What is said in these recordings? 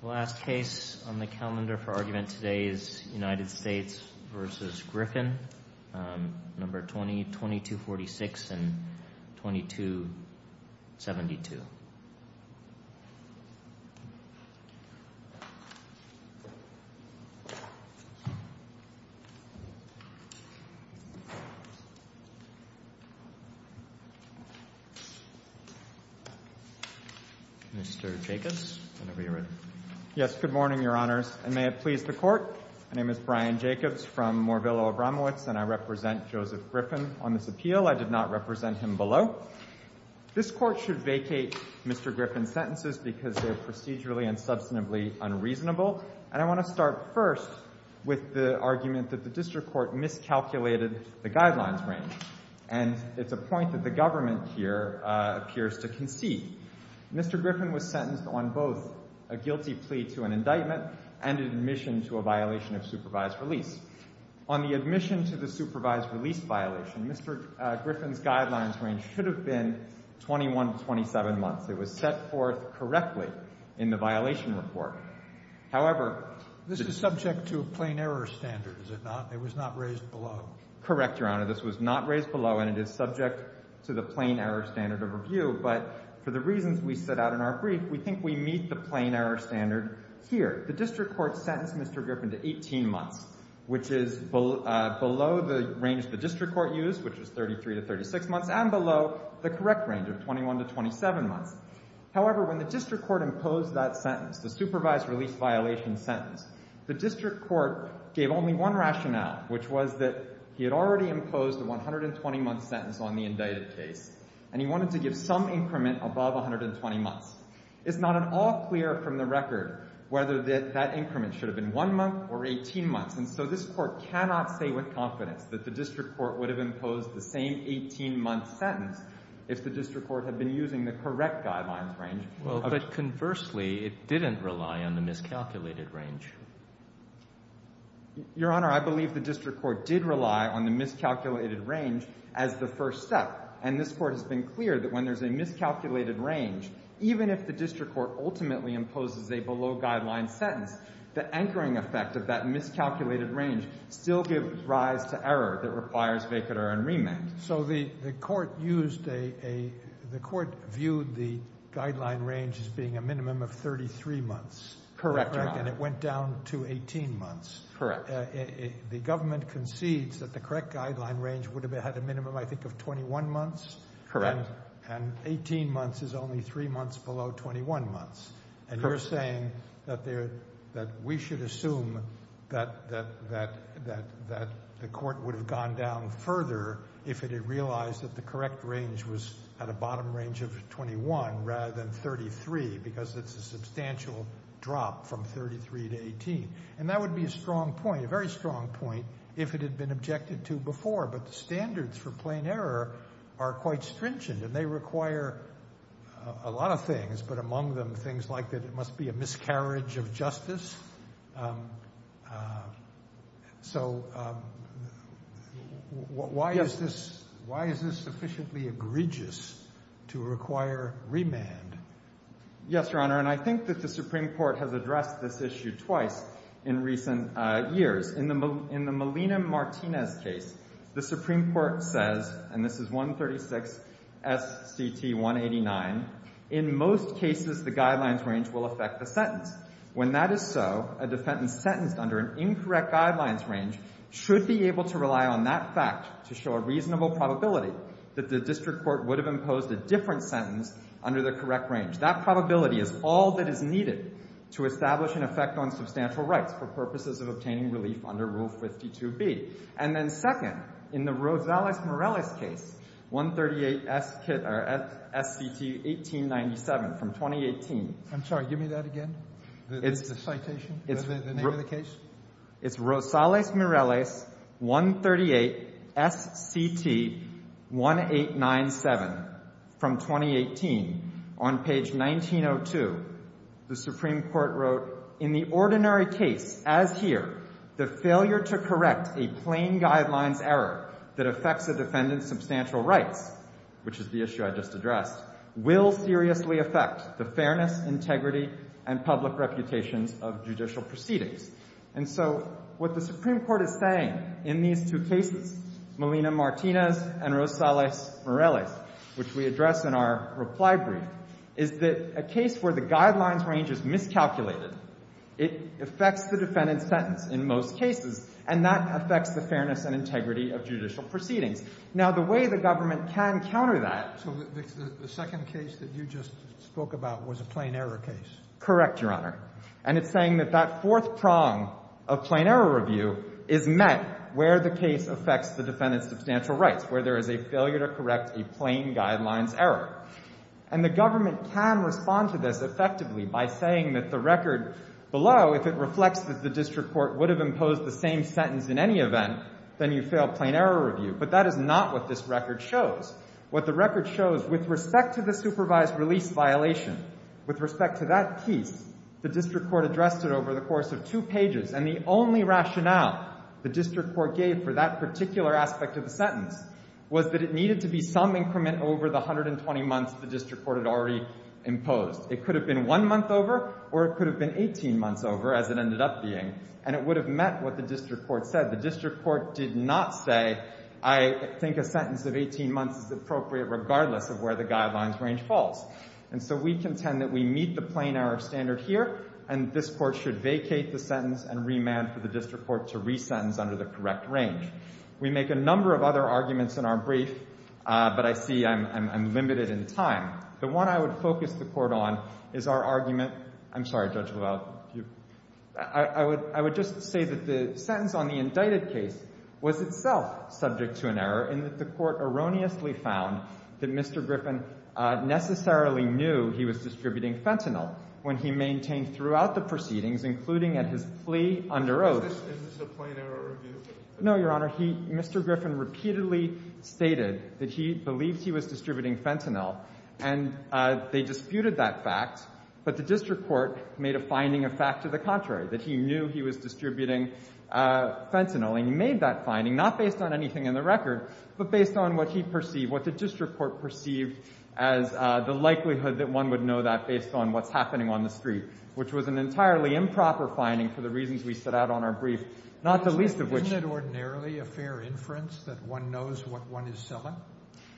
The last case on the calendar for argument today is United States v. Griffin, No. 20-2246 and 22-72. Mr. Jacobs, whenever you're ready. Yes, good morning, Your Honors, and may it please the Court. My name is Brian Jacobs from Moorville-Obramowitz, and I represent Joseph Griffin on this appeal. I did not represent him below. This Court should vacate Mr. Griffin's sentences because they are procedurally and substantively unreasonable. And I want to start first with the argument that the district court miscalculated the guidelines range. And it's a point that the government here appears to concede. Mr. Griffin was sentenced on both a guilty plea to an indictment and admission to a violation of supervised release. On the admission to the supervised release violation, Mr. Griffin's guidelines range should have been 21 to 27 months. It was set forth correctly in the violation report. However, this is subject to a plain error standard, is it not? It was not raised below. Correct, Your Honor. This was not raised below, and it is subject to the plain error standard of review. But for the reasons we set out in our brief, we think we meet the plain error standard here. The district court sentenced Mr. Griffin to 18 months, which is below the range the district court used, which is 33 to 36 months, and below the correct range of 21 to 27 months. However, when the district court imposed that sentence, the supervised release violation sentence, the district court gave only one rationale, which was that he had already imposed a 120-month sentence on the indicted case, and he wanted to give some increment above 120 months. It's not at all clear from the record whether that increment should have been one month or 18 months. And so this Court cannot say with confidence that the district court would have imposed the same 18-month sentence if the district court had been using the correct guidelines range. Well, but conversely, it didn't rely on the miscalculated range. Your Honor, I believe the district court did rely on the miscalculated range as the first step. And this Court has been clear that when there's a miscalculated range, even if the district court ultimately imposes a below-guideline sentence, the anchoring effect of that miscalculated range still gives rise to error that requires vacatur and remand. So the court used a—the court viewed the guideline range as being a minimum of 33 months. Correct, Your Honor. And it went down to 18 months. Correct. The government concedes that the correct guideline range would have had a minimum, I think, of 21 months. Correct. And 18 months is only 3 months below 21 months. Correct. And you're saying that we should assume that the court would have gone down further if it had realized that the correct range was at a bottom range of 21 rather than 33 because it's a substantial drop from 33 to 18. And that would be a strong point, a very strong point, if it had been objected to before. But the standards for plain error are quite stringent, and they require a lot of things, but among them things like that it must be a miscarriage of justice. So why is this sufficiently egregious to require remand? Yes, Your Honor. And I think that the Supreme Court has addressed this issue twice in recent years. In the Molina-Martinez case, the Supreme Court says, and this is 136 S.C.T. 189, in most cases the guidelines range will affect the sentence. When that is so, a defendant sentenced under an incorrect guidelines range should be able to rely on that fact to show a reasonable probability that the district court would have imposed a different sentence under the correct range. That probability is all that is needed to establish an effect on substantial rights for purposes of obtaining relief under Rule 52B. And then second, in the Rosales-Morales case, 138 S.C.T. 1897 from 2018. I'm sorry. Give me that again, the citation, the name of the case. It's Rosales-Morales 138 S.C.T. 1897 from 2018. On page 1902, the Supreme Court wrote, in the ordinary case as here, the failure to correct a plain guidelines error that affects a defendant's substantial rights, which is the issue I just addressed, will seriously affect the fairness, integrity, and public reputations of judicial proceedings. And so what the Supreme Court is saying in these two cases, Molina-Martinez and Rosales-Morales, which we address in our reply brief, is that a case where the guidelines range is miscalculated, it affects the defendant's sentence in most cases, and that affects the fairness and integrity of judicial proceedings. Now, the way the government can counter that— So the second case that you just spoke about was a plain error case. Correct, Your Honor. And it's saying that that fourth prong of plain error review is met where the case affects the defendant's substantial rights, where there is a failure to correct a plain guidelines error. And the government can respond to this effectively by saying that the record below, if it reflects that the district court would have imposed the same sentence in any event, then you fail plain error review. But that is not what this record shows. What the record shows, with respect to the supervised release violation, with respect to that piece, the district court addressed it over the course of two pages, and the only rationale the district court gave for that particular aspect of the sentence was that it needed to be some increment over the 120 months the district court had already imposed. It could have been one month over, or it could have been 18 months over, as it ended up being, and it would have met what the district court said. The district court did not say, I think a sentence of 18 months is appropriate regardless of where the guidelines range falls. And so we contend that we meet the plain error standard here, and this court should vacate the sentence and remand for the district court to resentence under the correct range. We make a number of other arguments in our brief, but I see I'm limited in time. The one I would focus the court on is our argument, I'm sorry, Judge LaValle, I would just say that the sentence on the indicted case was itself subject to an error, in that the court erroneously found that Mr. Griffin necessarily knew he was distributing fentanyl when he maintained throughout the proceedings, including at his plea under oath. No, Your Honor. Mr. Griffin repeatedly stated that he believed he was distributing fentanyl, and they disputed that fact, but the district court made a finding of fact to the contrary, that he knew he was distributing fentanyl. He made that finding not based on anything in the record, but based on what he perceived, what the district court perceived as the likelihood that one would know that based on what's happening on the street, which was an entirely improper finding for the reasons we set out on our brief, not the least of which- Isn't it ordinarily a fair inference that one knows what one is selling?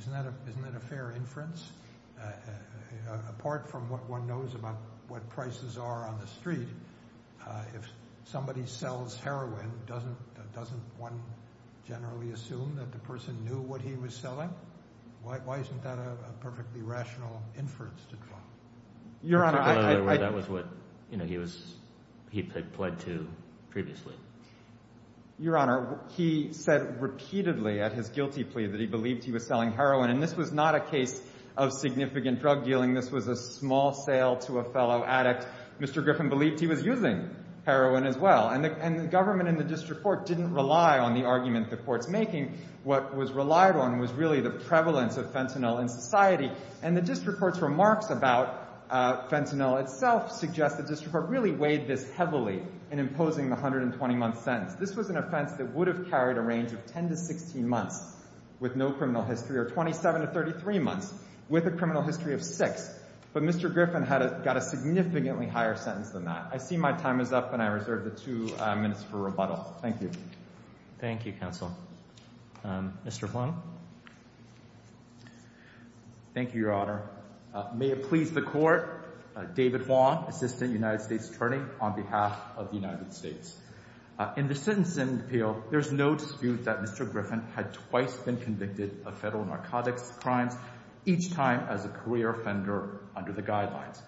Isn't that a fair inference? Apart from what one knows about what prices are on the street, if somebody sells heroin, doesn't one generally assume that the person knew what he was selling? Why isn't that a perfectly rational inference to draw? Your Honor, I- That was what he had pled to previously. Your Honor, he said repeatedly at his guilty plea that he believed he was selling heroin, and this was not a case of significant drug dealing. This was a small sale to a fellow addict. Mr. Griffin believed he was using heroin as well, and the government and the district court didn't rely on the argument the court's making. What was relied on was really the prevalence of fentanyl in society, and the district court's remarks about fentanyl itself suggest the district court really weighed this heavily in imposing the 120-month sentence. This was an offense that would have carried a range of 10 to 16 months with no criminal history or 27 to 33 months with a criminal history of six, but Mr. Griffin got a significantly higher sentence than that. I see my time is up, and I reserve the two minutes for rebuttal. Thank you. Thank you, counsel. Mr. Flannell. Thank you, Your Honor. May it please the court, David Wong, Assistant United States Attorney, on behalf of the United States. In the sentencing appeal, there's no dispute that Mr. Griffin had twice been convicted of federal narcotics crimes, each time as a career offender under the guidelines.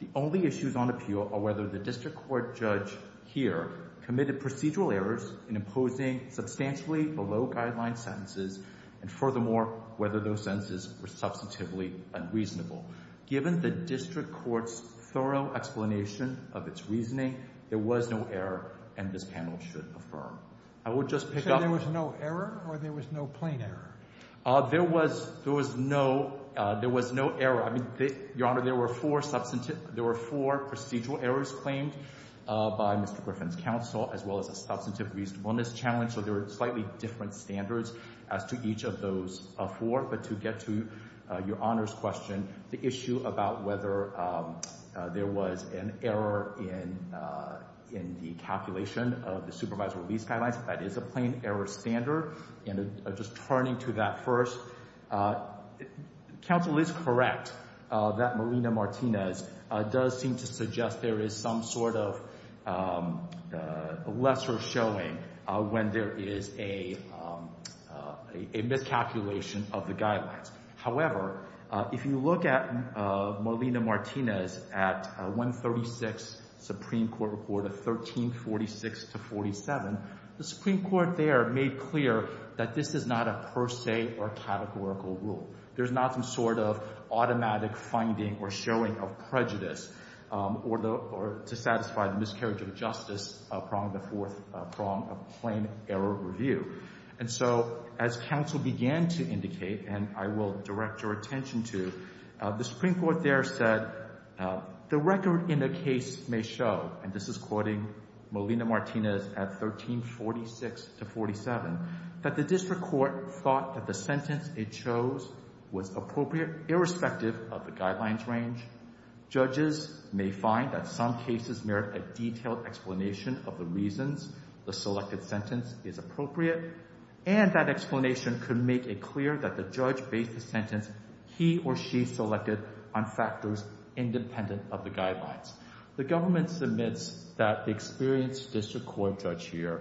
The only issues on appeal are whether the district court judge here committed procedural errors in imposing substantially below-guideline sentences, and furthermore, whether those sentences were substantively unreasonable. Given the district court's thorough explanation of its reasoning, there was no error, and this panel should affirm. I will just pick up. So there was no error, or there was no plain error? There was no error. Your Honor, there were four procedural errors claimed by Mr. Griffin's counsel, as well as a substantive reasonableness challenge. So there were slightly different standards as to each of those four. But to get to Your Honor's question, the issue about whether there was an error in the calculation of the supervisory release guidelines, that is a plain error standard, and just turning to that first, counsel is correct that Molina-Martinez does seem to suggest there is some sort of lesser showing when there is a miscalculation of the guidelines. However, if you look at Molina-Martinez at 136 Supreme Court Report of 1346-47, the Supreme Court there made clear that this is not a per se or categorical rule. There's not some sort of automatic finding or showing of prejudice to satisfy the miscarriage of justice prong of the fourth prong of plain error review. And so as counsel began to indicate, and I will direct your attention to, the Supreme Court there said the record in the case may show, and this is quoting Molina-Martinez at 1346-47, that the district court thought that the sentence it chose was appropriate irrespective of the guidelines range. Judges may find that some cases merit a detailed explanation of the reasons the selected sentence is appropriate, and that explanation could make it clear that the judge based the sentence he or she selected on factors independent of the guidelines. The government submits that the experienced district court judge here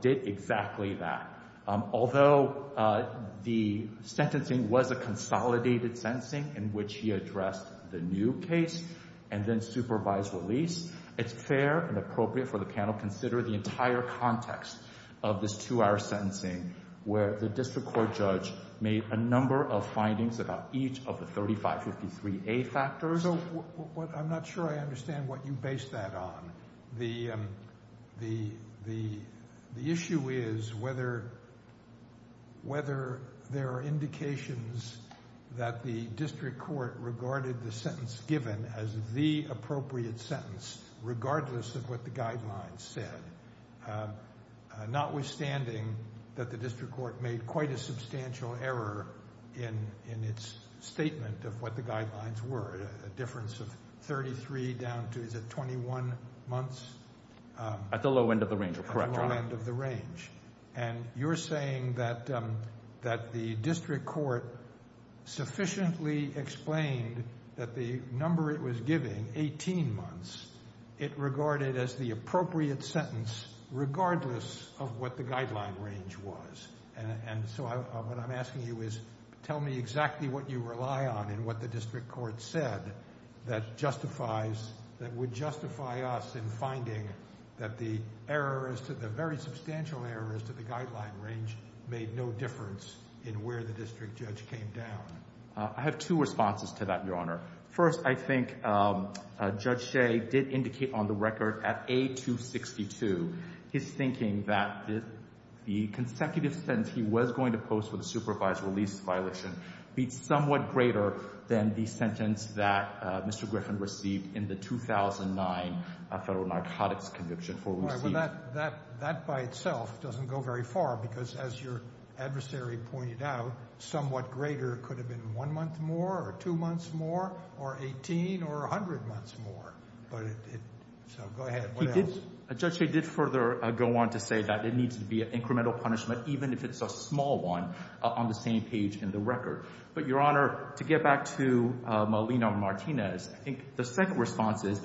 did exactly that. Although the sentencing was a consolidated sentencing in which he addressed the new case and then supervised release, it's fair and appropriate for the panel to consider the entire context of this two-hour sentencing where the district court judge made a number of findings about each of the 3553A factors. I'm not sure I understand what you based that on. The issue is whether there are indications that the district court regarded the sentence given as the appropriate sentence regardless of what the guidelines said, notwithstanding that the district court made quite a substantial error in its statement of what the guidelines were, a difference of 33 down to, is it 21 months? At the low end of the range. At the low end of the range. And you're saying that the district court sufficiently explained that the number it was giving, 18 months, it regarded as the appropriate sentence regardless of what the guideline range was. And so what I'm asking you is tell me exactly what you rely on in what the district court said that justifies, that would justify us in finding that the errors, the very substantial errors to the guideline range made no difference in where the district judge came down. I have two responses to that, Your Honor. First, I think Judge Shea did indicate on the record at A262 his thinking that the consecutive sentence he was going to post for the supervised release violation be somewhat greater than the sentence that Mr. Griffin received in the 2009 federal narcotics conviction. Well, that by itself doesn't go very far because as your adversary pointed out, somewhat greater could have been one month more or two months more or 18 or 100 months more. So go ahead. Judge Shea did further go on to say that there needs to be an incremental punishment even if it's a small one on the same page in the record. But, Your Honor, to get back to Molina-Martinez, I think the second response is,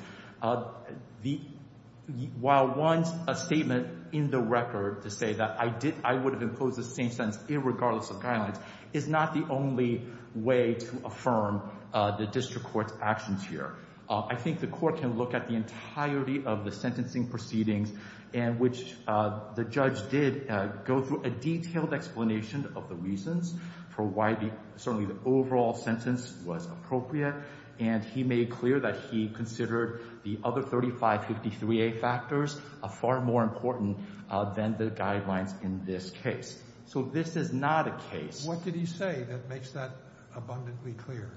while one's statement in the record to say that I would have imposed the same sentence irregardless of guidelines is not the only way to affirm the district court's actions here. I think the court can look at the entirety of the sentencing proceedings in which the judge did go through a detailed explanation of the reasons for why certainly the overall sentence was appropriate. And he made clear that he considered the other 3553A factors far more important than the guidelines in this case. So this is not a case. What did he say that makes that abundantly clear?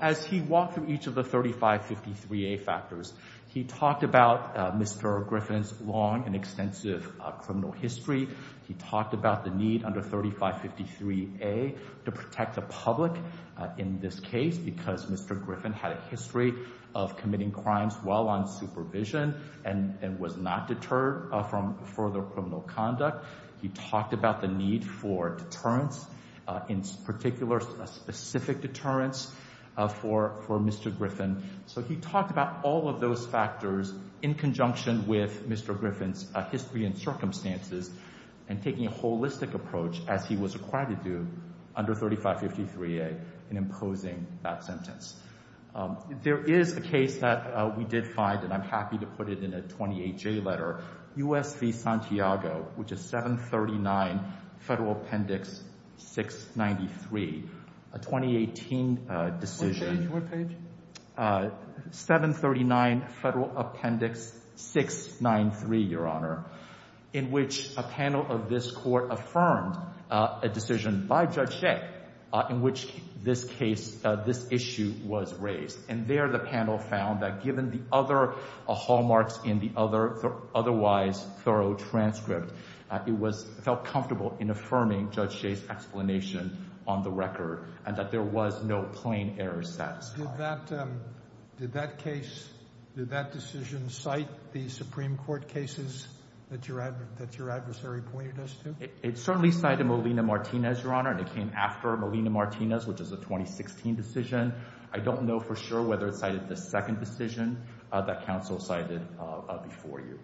As he walked through each of the 3553A factors, he talked about Mr. Griffin's long and extensive criminal history. He talked about the need under 3553A to protect the public in this case because Mr. Griffin had a history of committing crimes while on supervision and was not deterred from further criminal conduct. He talked about the need for deterrence, in particular a specific deterrence for Mr. Griffin. So he talked about all of those factors in conjunction with Mr. Griffin's history and circumstances and taking a holistic approach as he was required to do under 3553A in imposing that sentence. There is a case that we did find, and I'm happy to put it in a 28J letter, U.S. v. Santiago, which is 739 Federal Appendix 693, a 2018 decision. What page? 739 Federal Appendix 693, Your Honor, in which a panel of this court affirmed a decision by Judge Shek in which this issue was raised. And there the panel found that given the other hallmarks in the otherwise thorough transcript, it felt comfortable in affirming Judge Shek's explanation on the record and that there was no plain error satisfied. Did that case, did that decision cite the Supreme Court cases that your adversary pointed us to? It certainly cited Molina-Martinez, Your Honor, and it came after Molina-Martinez, which is a 2016 decision. I don't know for sure whether it cited the second decision that counsel cited before you.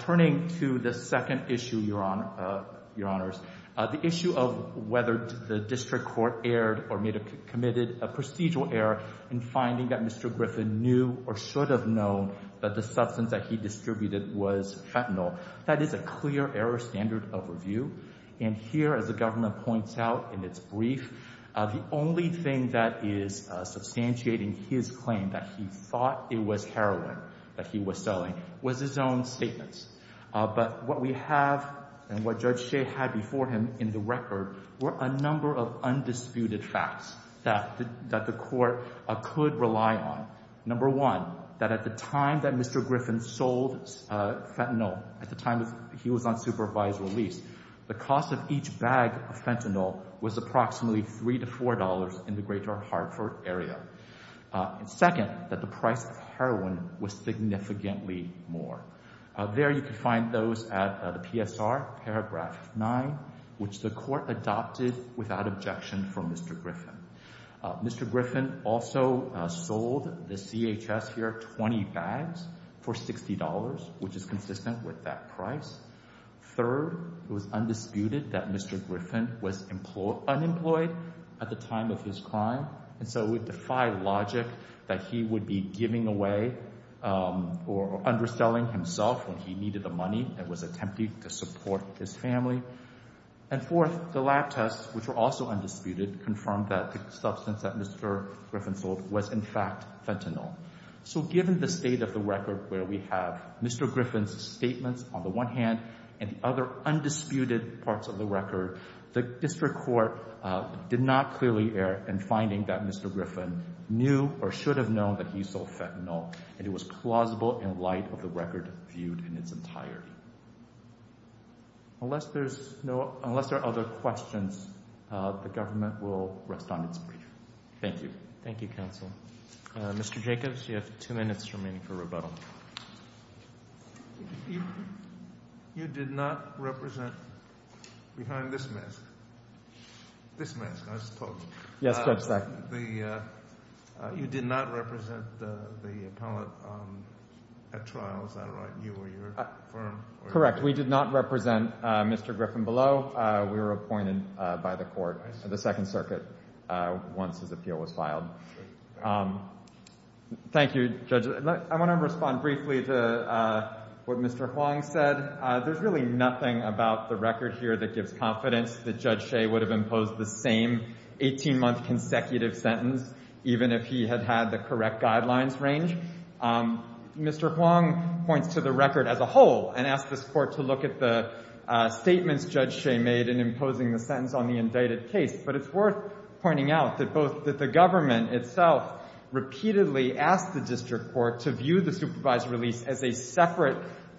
Turning to the second issue, Your Honors, the issue of whether the district court erred or may have committed a procedural error in finding that Mr. Griffin knew or should have known that the substance that he distributed was fentanyl. That is a clear error standard of review. And here, as the government points out in its brief, the only thing that is substantiating his claim that he thought it was heroin that he was selling was his own statements. But what we have and what Judge Shek had before him in the record were a number of undisputed facts that the court could rely on. Number one, that at the time that Mr. Griffin sold fentanyl, at the time he was on supervised release, the cost of each bag of fentanyl was approximately $3 to $4 in the greater Hartford area. Second, that the price of heroin was significantly more. There you could find those at the PSR, paragraph 9, which the court adopted without objection from Mr. Griffin. Mr. Griffin also sold the CHS here 20 bags for $60, which is consistent with that price. Third, it was undisputed that Mr. Griffin was unemployed at the time of his crime, and so it would defy logic that he would be giving away or underselling himself when he needed the money and was attempting to support his family. And fourth, the lab tests, which were also undisputed, confirmed that the substance that Mr. Griffin sold was in fact fentanyl. So given the state of the record where we have Mr. Griffin's statements on the one hand and the other undisputed parts of the record, the district court did not clearly err in finding that Mr. Griffin knew or should have known that he sold fentanyl, and it was plausible in light of the record viewed in its entirety. Unless there are other questions, the government will rest on its brief. Thank you. Thank you, counsel. Mr. Jacobs, you have two minutes remaining for rebuttal. You did not represent behind this mask, this mask, I suppose. Yes, Judge Sackett. You did not represent the appellate at trial. Is that right? You or your firm? Correct. We did not represent Mr. Griffin below. We were appointed by the court, the Second Circuit, once his appeal was filed. Thank you, Judge. I want to respond briefly to what Mr. Huang said. There's really nothing about the record here that gives confidence that Judge Shea would have imposed the same 18-month consecutive sentence even if he had had the correct guidelines range. Mr. Huang points to the record as a whole and asks this Court to look at the statements Judge Shea made in imposing the sentence on the indicted case. But it's worth pointing out that both the government itself repeatedly asked the district court to view the supervised release as a separate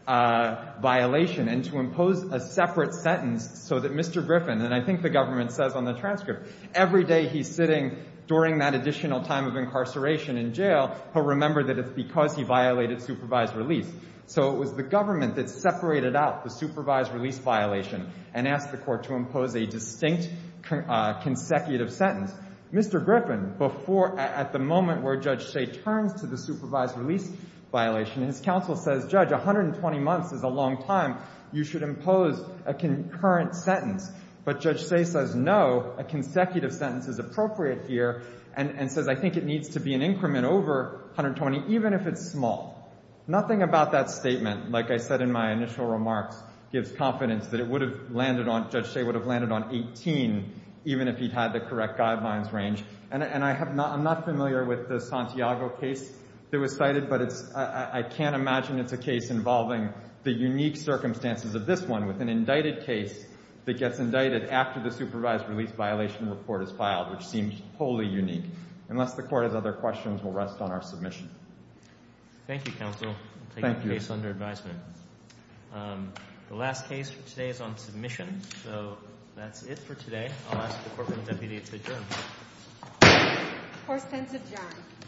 violation and to impose a separate sentence so that Mr. Griffin, and I think the government says on the transcript, every day he's sitting during that additional time of incarceration in jail, he'll remember that it's because he violated supervised release. So it was the government that separated out the supervised release violation and asked the court to impose a distinct consecutive sentence. Mr. Griffin, at the moment where Judge Shea turns to the supervised release violation, his counsel says, Judge, 120 months is a long time. You should impose a concurrent sentence. But Judge Shea says, no, a consecutive sentence is appropriate here and says, I think it needs to be an increment over 120, even if it's small. Nothing about that statement, like I said in my initial remarks, gives confidence that it would have landed on, Judge Shea would have landed on 18, even if he'd had the correct guidelines range. And I'm not familiar with the Santiago case that was cited, but I can't imagine it's a case involving the unique circumstances of this one with an indicted case that gets indicted after the supervised release violation report is filed, which seems wholly unique. Unless the court has other questions, we'll rest on our submission. Thank you, counsel. Thank you. I'll take the case under advisement. The last case for today is on submission, so that's it for today. I'll ask the Courtroom Deputy to adjourn. Court is adjourned. Thank you. Thank you.